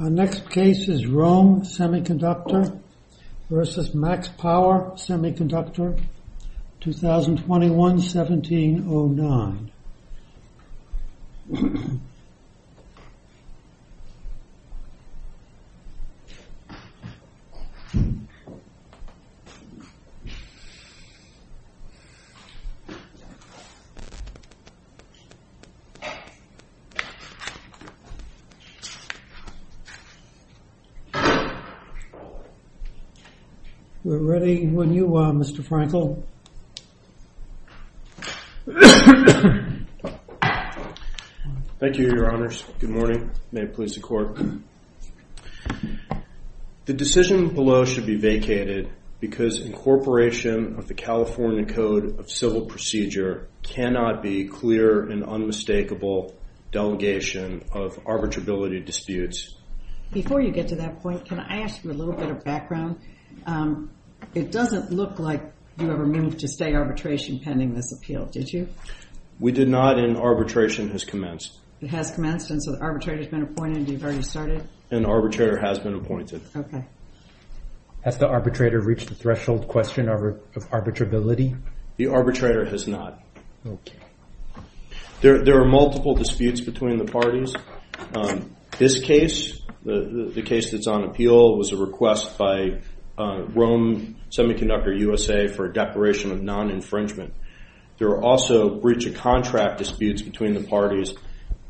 Our next case is ROHM Semiconductor v. MaxPower Semiconductor, 2021-1709. We're ready when you are, Mr. Frankel. Thank you, your honors. Good morning. May it please the court. The decision below should be vacated because incorporation of the California Code of Civil Procedure cannot be clear and unmistakable delegation of arbitrability disputes. Before you get to that point, can I ask you a little bit of background? It doesn't look like you ever moved to stay arbitration pending this appeal, did you? We did not and arbitration has commenced. It has commenced and so the arbitrator has been appointed, you've already started? An arbitrator has been appointed. Okay. Has the arbitrator reached the threshold question of arbitrability? The arbitrator has not. Okay. There are multiple disputes between the parties. This case, the case that's on appeal, was a request by ROHM Semiconductor USA for a declaration of non-infringement. There are also breach of contract disputes between the parties.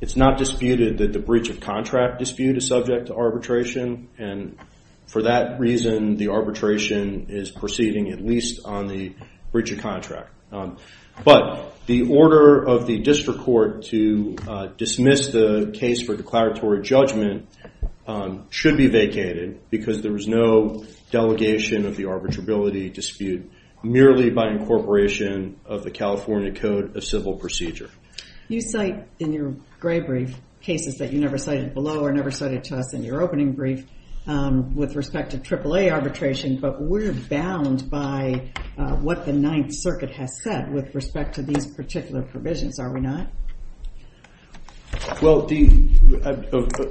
It's not disputed that the breach of contract dispute is subject to arbitration and for that reason the arbitration is proceeding at least on the breach of contract. But the order of the district court to dismiss the case for declaratory judgment should be vacated because there was no delegation of the arbitrability dispute merely by incorporation of the California Code of Civil Procedure. You cite in your gray brief cases that you never cited below or never cited to us in your opening brief with respect to AAA arbitration but we're bound by what the Ninth Circuit has said with respect to these particular provisions, are we not? Well,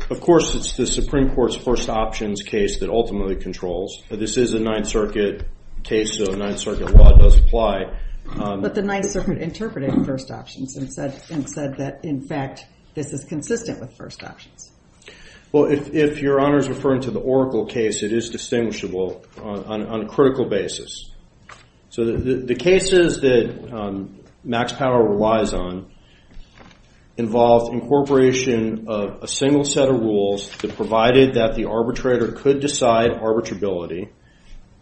of course it's the Supreme Court's first options case that ultimately controls. This is a Ninth Circuit case so Ninth Circuit law does apply. But the Ninth Circuit interpreted first options and said that in fact this is consistent with first options. Well, if your honor is referring to the Oracle case, it is distinguishable on a critical basis. So the cases that Max Power relies on involve incorporation of a single set of rules that provided that the arbitrator could decide arbitrability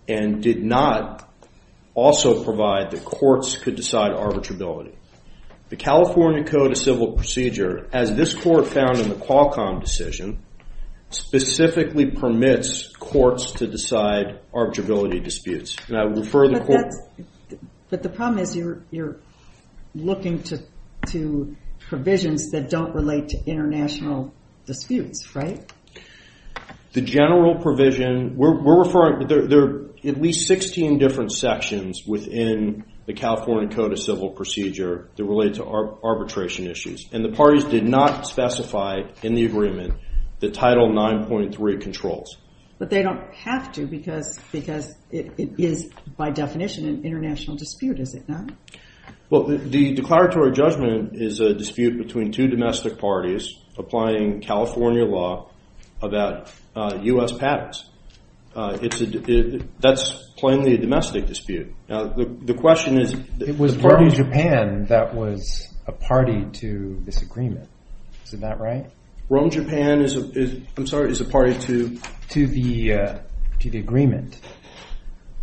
and did not also provide that courts could decide arbitrability. The California Code of Civil Procedure as this court found in the Qualcomm decision specifically permits courts to decide arbitrability disputes. But the problem is you're looking to provisions that don't relate to international disputes, right? The general provision, we're referring, there are at least 16 different sections within the California Code of Civil Procedure that relate to arbitration issues. And the parties did not specify in the agreement the Title 9.3 controls. But they don't have to because it is by definition an international dispute, is it not? Well, the declaratory judgment is a dispute between two domestic parties applying California law about U.S. patents. That's plainly a domestic dispute. The question is… It was Party Japan that was a party to this agreement. Is that right? Rome, Japan is a party to… To the agreement.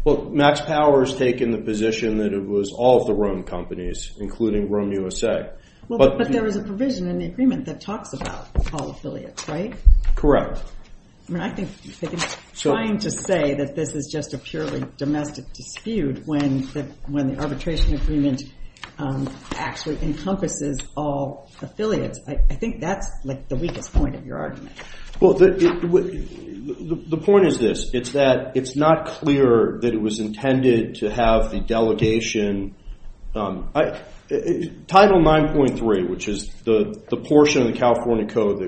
Well, Max Power has taken the position that it was all of the Rome companies including Rome, USA. But there is a provision in the agreement that talks about all affiliates, right? Correct. I mean, I think trying to say that this is just a purely domestic dispute when the arbitration agreement actually encompasses all affiliates, I think that's like the weakest point of your argument. Well, the point is this. It's that it's not clear that it was intended to have the delegation. Title 9.3, which is the portion of the California Code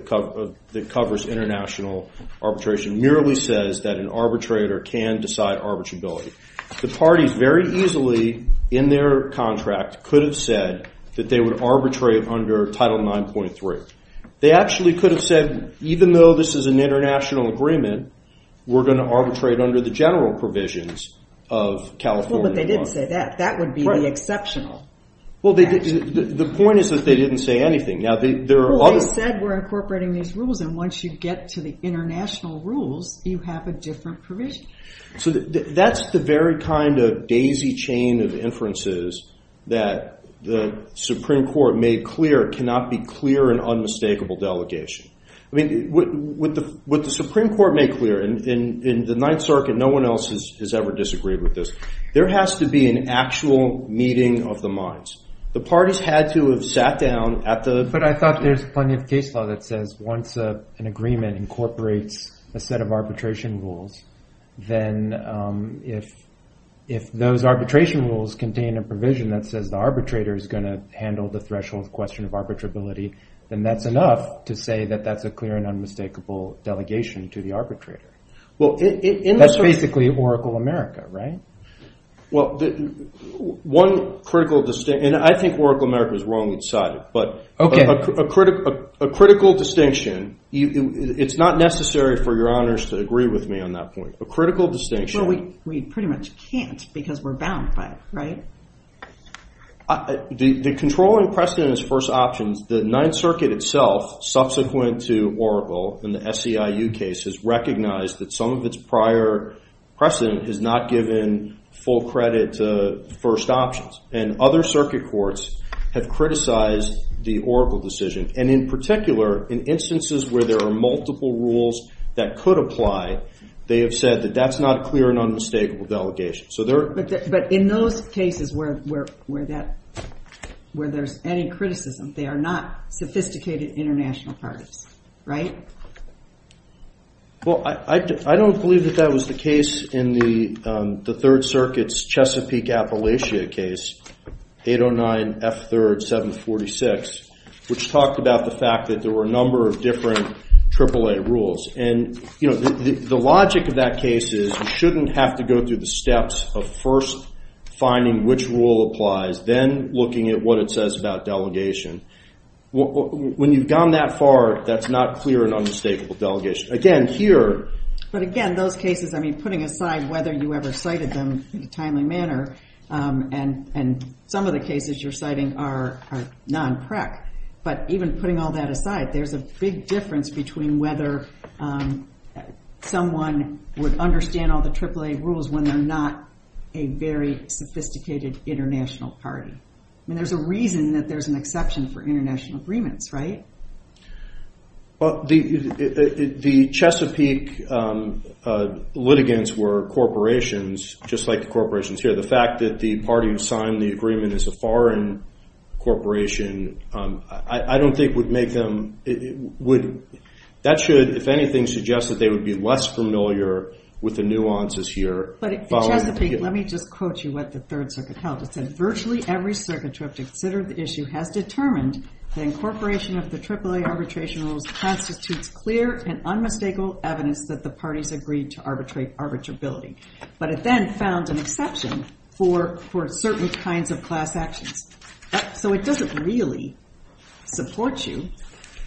that covers international arbitration, merely says that an arbitrator can decide arbitrability. The parties very easily in their contract could have said that they would arbitrate under Title 9.3. They actually could have said, even though this is an international agreement, we're going to arbitrate under the general provisions of California law. Well, but they didn't say that. That would be the exceptional. Well, the point is that they didn't say anything. Well, they said we're incorporating these rules, and once you get to the international rules, you have a different provision. So that's the very kind of daisy chain of inferences that the Supreme Court made clear cannot be clear in unmistakable delegation. I mean, what the Supreme Court made clear, and in the Ninth Circuit, no one else has ever disagreed with this, there has to be an actual meeting of the minds. The parties had to have sat down at the… Then if those arbitration rules contain a provision that says the arbitrator is going to handle the threshold question of arbitrability, then that's enough to say that that's a clear and unmistakable delegation to the arbitrator. That's basically Oracle America, right? Well, one critical distinction, and I think Oracle America is wrong inside, but a critical distinction, it's not necessary for your honors to agree with me on that point. A critical distinction… Well, we pretty much can't because we're bound by it, right? The controlling precedent is first options. The Ninth Circuit itself, subsequent to Oracle in the SEIU case, has recognized that some of its prior precedent has not given full credit to first options. And other circuit courts have criticized the Oracle decision. And in particular, in instances where there are multiple rules that could apply, they have said that that's not a clear and unmistakable delegation. But in those cases where there's any criticism, they are not sophisticated international parties, right? Well, I don't believe that that was the case in the Third Circuit's Chesapeake-Appalachia case, 809F3rd 746, which talked about the fact that there were a number of different AAA rules. And the logic of that case is you shouldn't have to go through the steps of first finding which rule applies, then looking at what it says about delegation. When you've gone that far, that's not clear and unmistakable delegation. Again, here… But again, those cases, I mean, putting aside whether you ever cited them in a timely manner, and some of the cases you're citing are non-PREC. But even putting all that aside, there's a big difference between whether someone would understand all the AAA rules when they're not a very sophisticated international party. I mean, there's a reason that there's an exception for international agreements, right? Well, the Chesapeake litigants were corporations, just like the corporations here. The fact that the party who signed the agreement is a foreign corporation, I don't think would make them – that should, if anything, suggest that they would be less familiar with the nuances here. But in Chesapeake, let me just quote you what the Third Circuit held. It said, virtually every circuit trip to consider the issue has determined the incorporation of the AAA arbitration rules constitutes clear and unmistakable evidence that the parties agreed to arbitrability. But it then found an exception for certain kinds of class actions. So it doesn't really support you.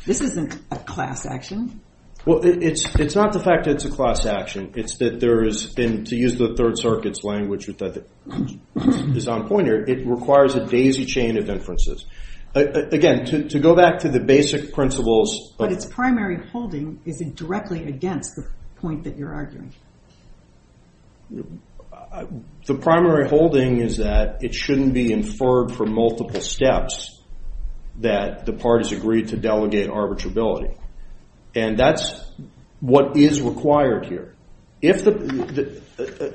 This isn't a class action. Well, it's not the fact that it's a class action. It's that there has been – to use the Third Circuit's language that is on point here, it requires a daisy chain of inferences. Again, to go back to the basic principles – But its primary holding isn't directly against the point that you're arguing. The primary holding is that it shouldn't be inferred from multiple steps that the parties agreed to delegate arbitrability. And that's what is required here. If the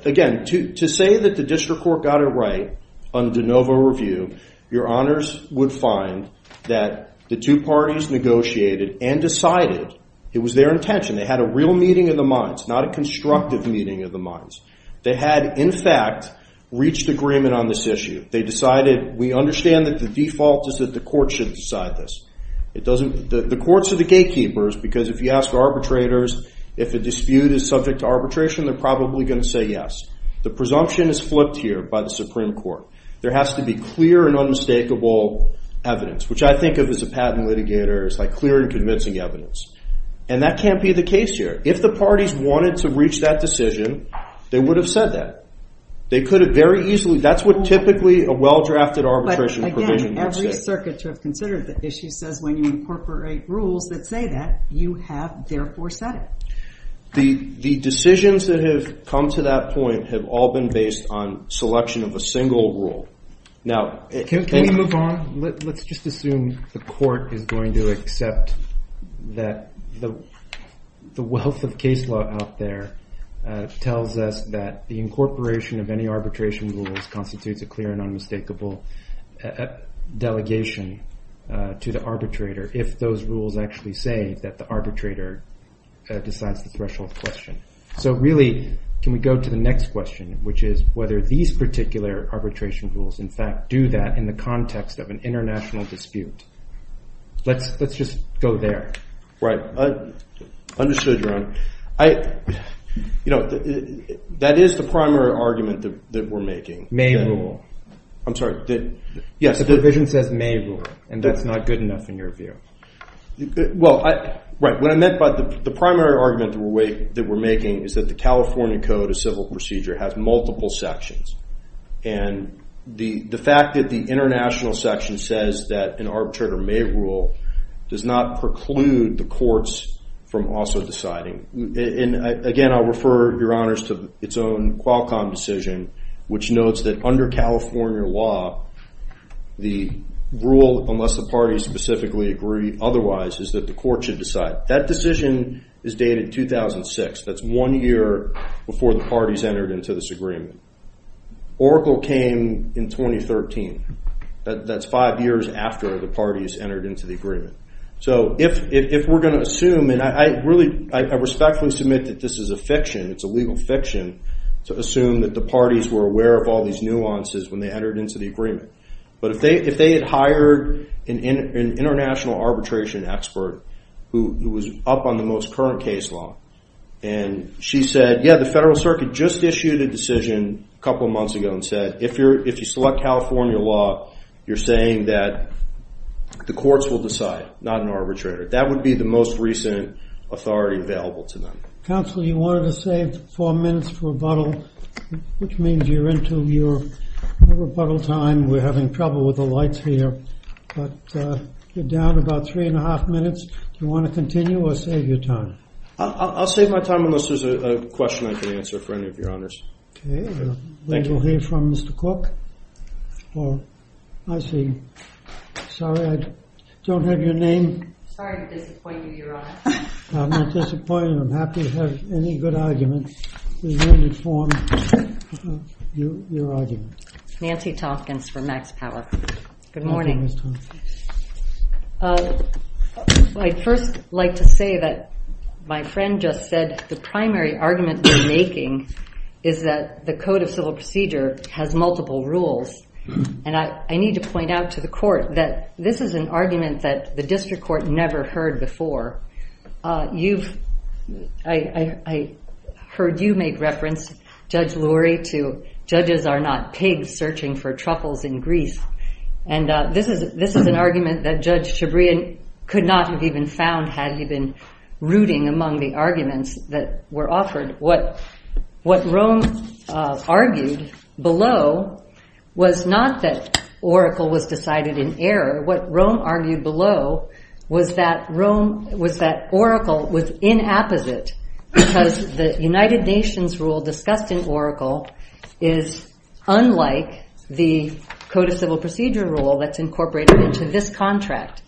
– again, to say that the district court got it right on the de novo review, your honors would find that the two parties negotiated and decided it was their intention. They had a real meeting of the minds, not a constructive meeting of the minds. They had in fact reached agreement on this issue. They decided we understand that the default is that the court should decide this. It doesn't – the courts are the gatekeepers because if you ask arbitrators if a dispute is subject to arbitration, they're probably going to say yes. The presumption is flipped here by the Supreme Court. There has to be clear and unmistakable evidence, which I think of as a patent litigator. It's like clear and convincing evidence. And that can't be the case here. If the parties wanted to reach that decision, they would have said that. They could have very easily – that's what typically a well-drafted arbitration provision would say. But again, every circuit to have considered the issue says when you incorporate rules that say that, you have therefore said it. The decisions that have come to that point have all been based on selection of a single rule. Can we move on? Let's just assume the court is going to accept that the wealth of case law out there tells us that the incorporation of any arbitration rules constitutes a clear and unmistakable delegation to the arbitrator if those rules actually say that the arbitrator decides the threshold question. So really, can we go to the next question, which is whether these particular arbitration rules in fact do that in the context of an international dispute? Let's just go there. Right. Understood, Your Honor. That is the primary argument that we're making. May rule. I'm sorry. Yes. The provision says may rule and that's not good enough in your view. Well, right. What I meant by the primary argument that we're making is that the California Code of Civil Procedure has multiple sections. And the fact that the international section says that an arbitrator may rule does not preclude the courts from also deciding. Again, I'll refer, Your Honors, to its own Qualcomm decision, which notes that under California law, the rule, unless the parties specifically agree otherwise, is that the court should decide. That decision is dated 2006. That's one year before the parties entered into this agreement. Oracle came in 2013. That's five years after the parties entered into the agreement. So if we're going to assume, and I respectfully submit that this is a fiction. It's a legal fiction to assume that the parties were aware of all these nuances when they entered into the agreement. But if they had hired an international arbitration expert who was up on the most current case law and she said, yeah, the federal circuit just issued a decision a couple months ago and said, if you select California law, you're saying that the courts will decide. Not an arbitrator. That would be the most recent authority available to them. Counsel, you wanted to save four minutes for rebuttal, which means you're into your rebuttal time. We're having trouble with the lights here. But you're down about three and a half minutes. You want to continue or save your time? I'll save my time unless there's a question I can answer for any of your honors. OK. We will hear from Mr. Cook. Oh, I see. Sorry, I don't have your name. Sorry to disappoint you, Your Honor. I'm not disappointed. I'm happy to have any good arguments. We will inform you of your arguments. Nancy Tompkins for Max Power. Good morning. Good morning, Ms. Tompkins. I'd first like to say that my friend just said the primary argument they're making is that the Code of Civil Procedure has multiple rules. And I need to point out to the court that this is an argument that the district court never heard before. I heard you make reference, Judge Lurie, to judges are not pigs searching for truffles in Greece. And this is an argument that Judge Chabria could not have even found had he been rooting among the arguments that were offered. What Rome argued below was not that Oracle was decided in error. What Rome argued below was that Oracle was inapposite because the United Nations rule discussed in Oracle is unlike the Code of Civil Procedure rule that's incorporated into this contract.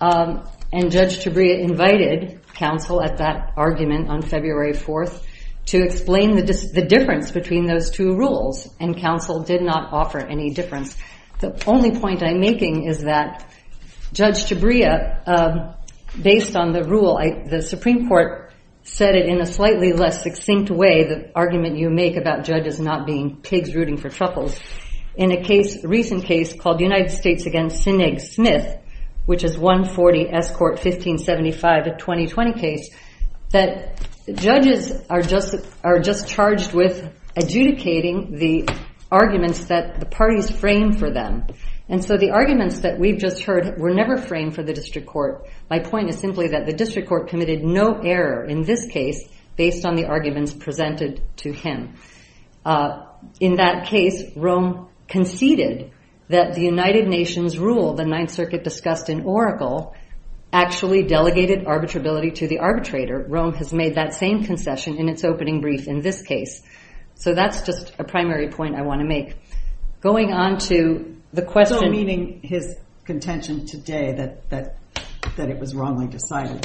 And Judge Chabria invited counsel at that argument on February 4th to explain the difference between those two rules. And counsel did not offer any difference. The only point I'm making is that Judge Chabria, based on the rule, the Supreme Court said it in a slightly less succinct way, the argument you make about judges not being pigs rooting for truffles, in a recent case called United States against Sineg Smith, which is 140 S Court 1575, a 2020 case, that judges are just charged with adjudicating the arguments that the parties frame for them. And so the arguments that we've just heard were never framed for the district court. My point is simply that the district court committed no error in this case based on the arguments presented to him. In that case, Rome conceded that the United Nations rule, the Ninth Circuit discussed in Oracle, actually delegated arbitrability to the arbitrator. Rome has made that same concession in its opening brief in this case. So that's just a primary point I want to make. Going on to the question- So meaning his contention today that it was wrongly decided.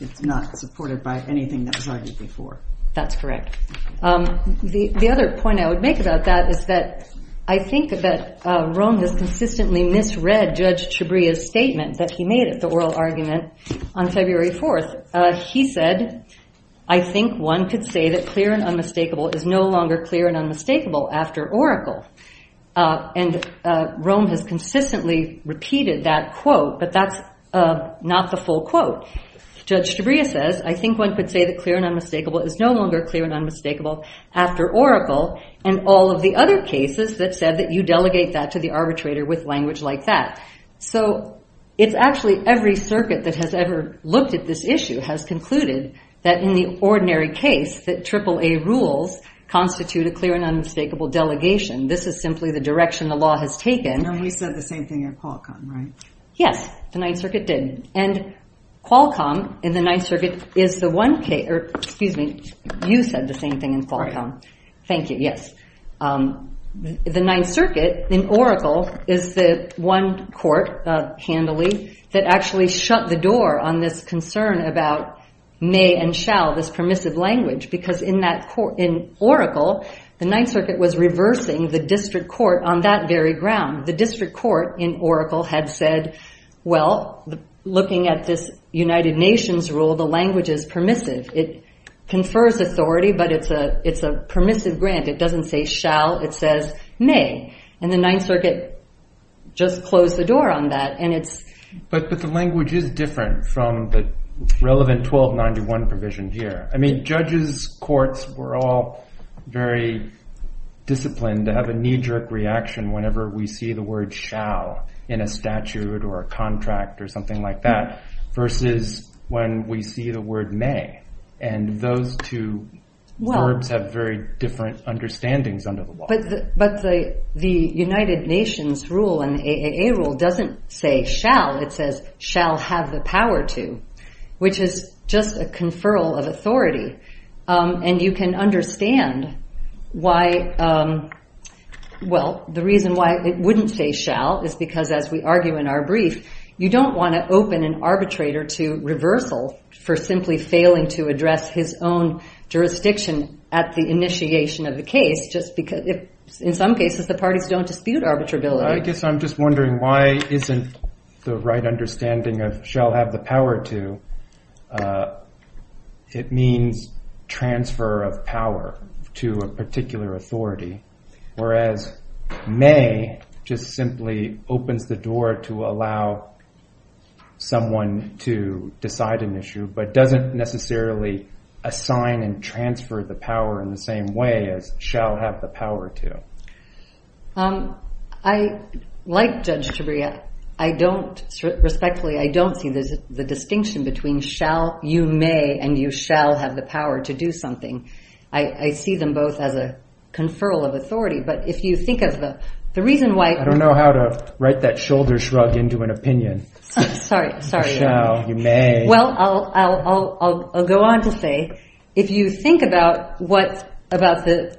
It's not supported by anything that was argued before. That's correct. The other point I would make about that is that I think that Rome has consistently misread Judge Chabria's statement that he made at the oral argument on February 4th. He said, I think one could say that clear and unmistakable is no longer clear and unmistakable after Oracle. And Rome has consistently repeated that quote, but that's not the full quote. Judge Chabria says, I think one could say that clear and unmistakable is no longer clear and unmistakable after Oracle and all of the other cases that said that you delegate that to the arbitrator with language like that. So it's actually every circuit that has ever looked at this issue has concluded that in the ordinary case that AAA rules constitute a clear and unmistakable delegation. This is simply the direction the law has taken. No, he said the same thing at Qualcomm, right? Yes, the Ninth Circuit did. And Qualcomm in the Ninth Circuit is the one case, or excuse me, you said the same thing in Qualcomm. Thank you. Yes. The Ninth Circuit in Oracle is the one court handily that actually shut the door on this concern about may and shall, this permissive language. Because in that court, in Oracle, the Ninth Circuit was reversing the district court on that very ground. The district court in Oracle had said, well, looking at this United Nations rule, the language is permissive. It confers authority, but it's a permissive grant. It doesn't say shall. It says may. And the Ninth Circuit just closed the door on that. But the language is different from the relevant 1291 provision here. I mean, judges, courts, we're all very disciplined to have a knee-jerk reaction whenever we see the word shall in a statute or a contract or something like that versus when we see the word may. And those two verbs have very different understandings under the law. But the United Nations rule and the AAA rule doesn't say shall. It says shall have the power to, which is just a conferral of authority. And you can understand why, well, the reason why it wouldn't say shall is because, as we argue in our brief, you don't want to open an arbitrator to reversal for simply failing to address his own jurisdiction at the initiation of the case. In some cases, the parties don't dispute arbitrability. I guess I'm just wondering why isn't the right understanding of shall have the power to, it means transfer of power to a particular authority, whereas may just simply opens the door to allow someone to decide an issue but doesn't necessarily assign and transfer the power in the same way as shall have the power to. I, like Judge Tabria, I don't, respectfully, I don't see the distinction between shall, you may, and you shall have the power to do something. I see them both as a conferral of authority. But if you think of the reason why. I don't know how to write that shoulder shrug into an opinion. Sorry, sorry. Shall, you may. Well, I'll go on to say, if you think about what about the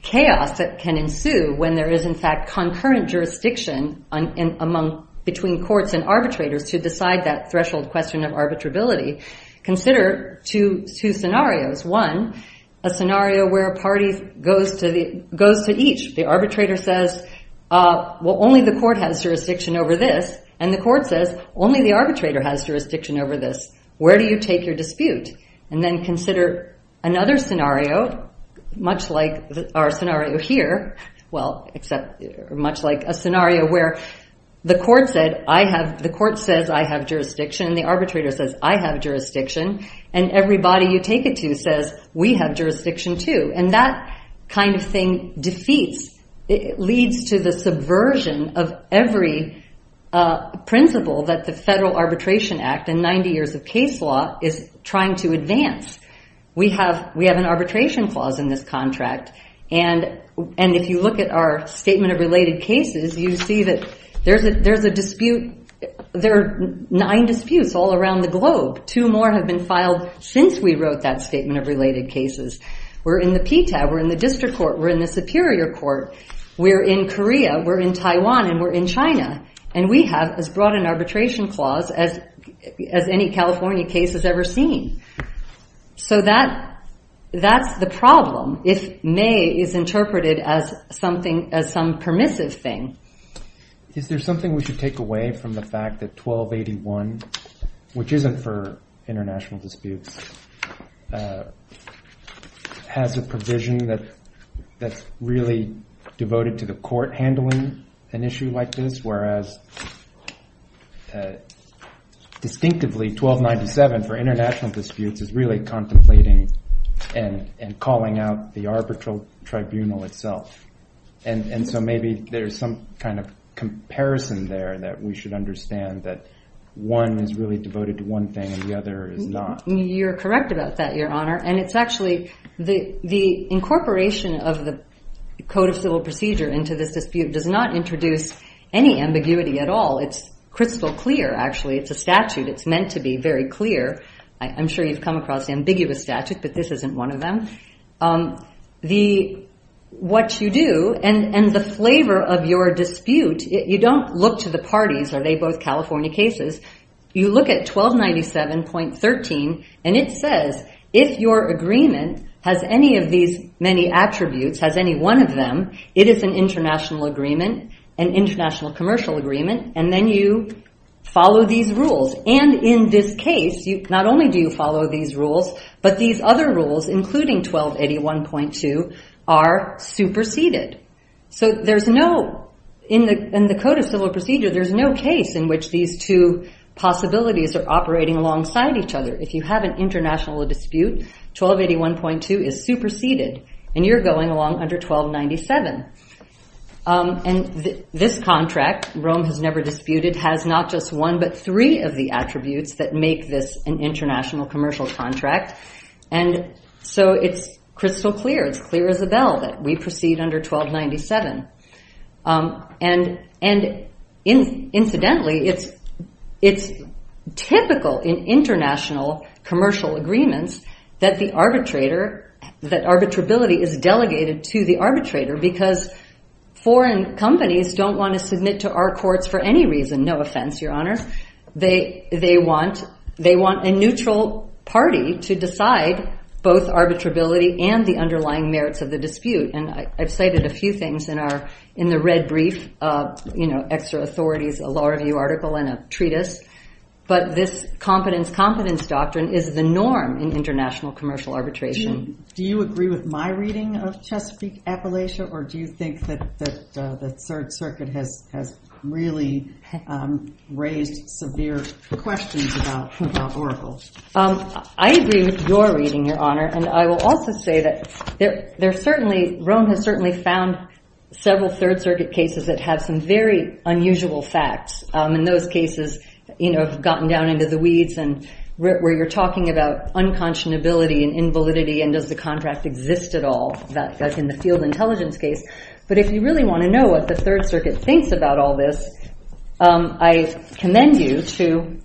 chaos that can ensue when there is in fact concurrent jurisdiction among between courts and arbitrators to decide that threshold question of arbitrability. Consider two scenarios. One, a scenario where a party goes to each. The arbitrator says, well, only the court has jurisdiction over this. And the court says, only the arbitrator has jurisdiction over this. Where do you take your dispute? And then consider another scenario, much like our scenario here. Well, except much like a scenario where the court said, I have, the court says, I have jurisdiction. And the arbitrator says, I have jurisdiction. And everybody you take it to says, we have jurisdiction, too. And that kind of thing defeats, leads to the subversion of every principle that the Federal Arbitration Act and 90 years of case law is trying to advance. We have an arbitration clause in this contract. And if you look at our statement of related cases, you see that there's a dispute. There are nine disputes all around the globe. Two more have been filed since we wrote that statement of related cases. We're in the PTA. We're in the district court. We're in the superior court. We're in Korea. We're in Taiwan. And we're in China. And we have as broad an arbitration clause as any California case has ever seen. So that's the problem if may is interpreted as something, as some permissive thing. Is there something we should take away from the fact that 1281, which isn't for international disputes, has a provision that's really devoted to the court handling an issue like this? Whereas, distinctively, 1297 for international disputes is really contemplating and calling out the arbitral tribunal itself. And so maybe there's some kind of comparison there that we should understand that one is really devoted to one thing and the other is not. You're correct about that, Your Honor. And it's actually the incorporation of the Code of Civil Procedure into this dispute does not introduce any ambiguity at all. It's crystal clear, actually. It's a statute. It's meant to be very clear. I'm sure you've come across ambiguous statutes, but this isn't one of them. What you do and the flavor of your dispute, you don't look to the parties. Are they both California cases? You look at 1297.13, and it says if your agreement has any of these many attributes, has any one of them, it is an international agreement, an international commercial agreement. And then you follow these rules. And in this case, not only do you follow these rules, but these other rules, including 1281.2, are superseded. So in the Code of Civil Procedure, there's no case in which these two possibilities are operating alongside each other. If you have an international dispute, 1281.2 is superseded, and you're going along under 1297. And this contract, Rome has never disputed, has not just one but three of the attributes that make this an international commercial contract. And so it's crystal clear. It's clear as a bell that we proceed under 1297. And incidentally, it's typical in international commercial agreements that the arbitrator, that arbitrability is delegated to the arbitrator because foreign companies don't want to submit to our courts for any reason. No offense, Your Honors. They want a neutral party to decide both arbitrability and the underlying merits of the dispute. And I've cited a few things in the red brief, extra authorities, a law review article, and a treatise. But this competence-competence doctrine is the norm in international commercial arbitration. Do you agree with my reading of Chesapeake Appalachia, or do you think that the Third Circuit has really raised severe questions about Oracle? I agree with your reading, Your Honor. And I will also say that there are certainly, Rome has certainly found several Third Circuit cases that have some very unusual facts. And those cases, you know, have gotten down into the weeds and where you're talking about unconscionability and invalidity and does the contract exist at all. That's in the field intelligence case. But if you really want to know what the Third Circuit thinks about all this, I commend you to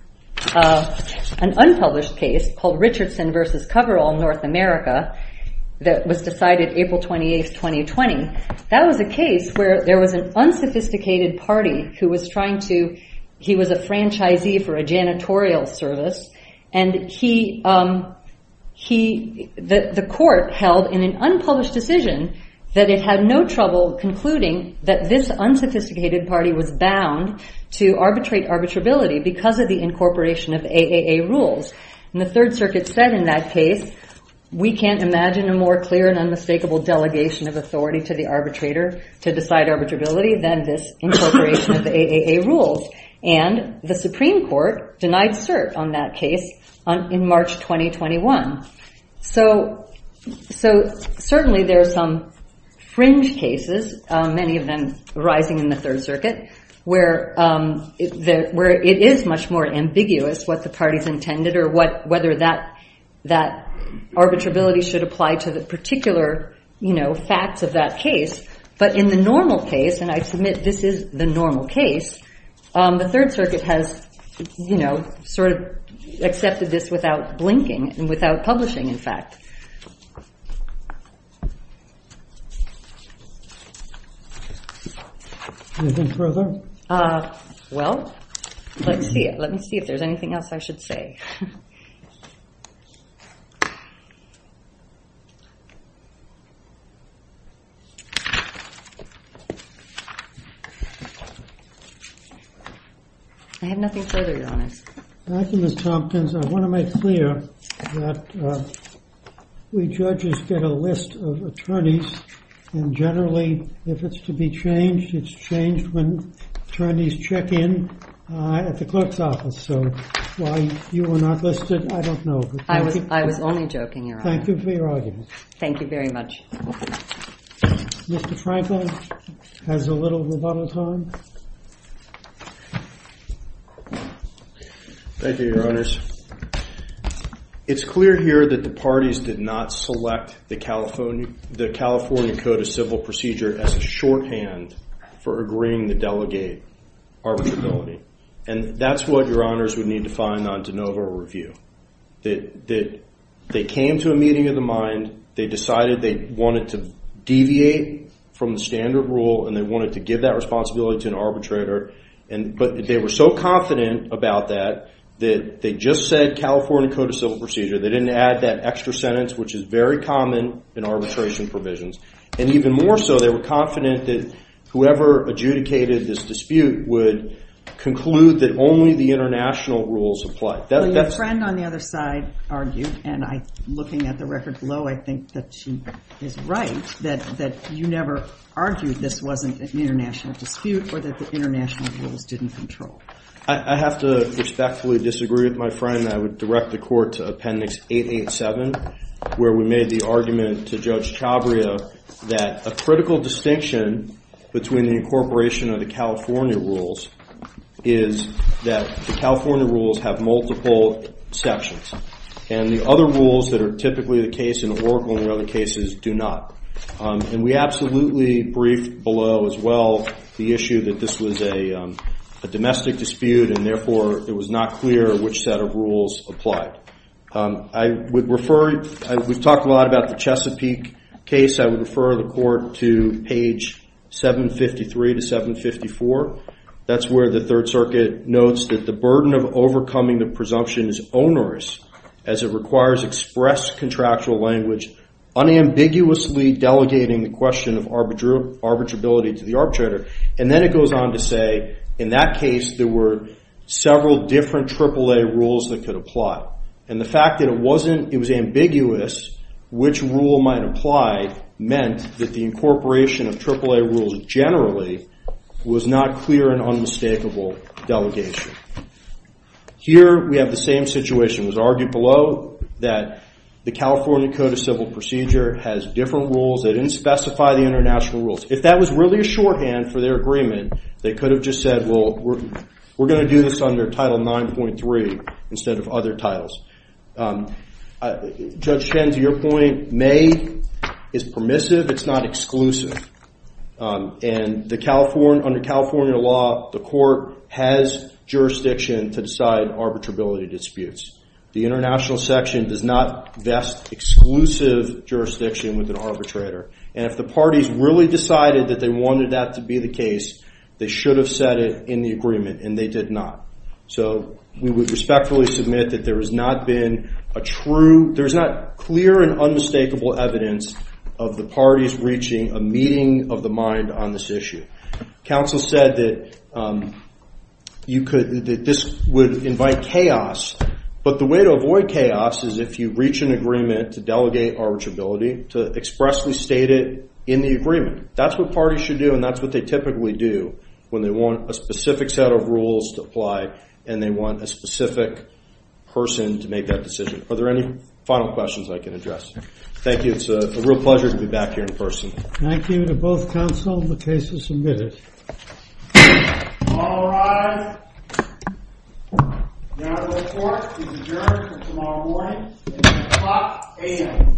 an unpublished case called Richardson v. Coverall, North America, that was decided April 28, 2020. That was a case where there was an unsophisticated party who was trying to, he was a franchisee for a janitorial service. And the court held in an unpublished decision that it had no trouble concluding that this unsophisticated party was bound to arbitrate arbitrability because of the incorporation of AAA rules. And the Third Circuit said in that case, we can't imagine a more clear and unmistakable delegation of authority to the arbitrator to decide arbitrability than this incorporation of AAA rules. And the Supreme Court denied cert on that case in March 2021. So certainly there are some fringe cases, many of them arising in the Third Circuit, where it is much more ambiguous what the parties intended or whether that arbitrability should apply to the particular, you know, facts of that case. But in the normal case, and I submit this is the normal case, the Third Circuit has, you know, sort of accepted this without blinking and without publishing, in fact. Well, let me see if there's anything else I should say. I have nothing further, Your Honor. Thank you, Ms. Tompkins. I want to make clear that we judges get a list of attorneys. And generally, if it's to be changed, it's changed when attorneys check in at the clerk's office. So why you were not listed, I don't know. I was only joking, Your Honor. Thank you for your argument. Thank you very much. Mr. Franklin has a little rebuttal time. Thank you, Your Honors. It's clear here that the parties did not select the California Code of Civil Procedure as a shorthand for agreeing to delegate arbitrability. And that's what Your Honors would need to find on de novo review. They came to a meeting of the mind. They decided they wanted to deviate from the standard rule and they wanted to give that responsibility to an arbitrator. But they were so confident about that that they just said California Code of Civil Procedure. They didn't add that extra sentence, which is very common in arbitration provisions. And even more so, they were confident that whoever adjudicated this dispute would conclude that only the international rules apply. Your friend on the other side argued, and looking at the record below, I think that she is right, that you never argued this wasn't an international dispute or that the international rules didn't control. I have to respectfully disagree with my friend that I would direct the court to Appendix 887, where we made the argument to Judge Chabria that a critical distinction between the incorporation of the California rules is that the California rules have multiple exceptions. And the other rules that are typically the case in Oracle and other cases do not. And we absolutely briefed below as well the issue that this was a domestic dispute and therefore it was not clear which set of rules applied. We've talked a lot about the Chesapeake case. I would refer the court to page 753 to 754. That's where the Third Circuit notes that the burden of overcoming the presumption is onerous as it requires expressed contractual language unambiguously delegating the question of arbitrability to the arbitrator. And then it goes on to say in that case there were several different AAA rules that could apply. And the fact that it was ambiguous which rule might apply meant that the incorporation of AAA rules generally was not clear and unmistakable delegation. Here we have the same situation. It was argued below that the California Code of Civil Procedure has different rules. They didn't specify the international rules. If that was really a shorthand for their agreement, they could have just said, we're going to do this under Title IX.3 instead of other titles. Judge Chen, to your point, may is permissive. It's not exclusive. And under California law, the court has jurisdiction to decide arbitrability disputes. The international section does not vest exclusive jurisdiction with an arbitrator. And if the parties really decided that they wanted that to be the case, they should have said it in the agreement. And they did not. So we would respectfully submit that there has not been a true, there's not clear and unmistakable evidence of the parties reaching a meeting of the mind on this issue. Counsel said that you could, that this would invite chaos. But the way to avoid chaos is if you reach an agreement to delegate arbitrability, to expressly state it in the agreement. That's what parties should do, and that's what they typically do when they want a specific set of rules to apply and they want a specific person to make that decision. Are there any final questions I can address? Thank you. It's a real pleasure to be back here in person. Thank you to both counsel. The case is submitted. All rise. Your report is adjourned until tomorrow morning at 8 o'clock a.m.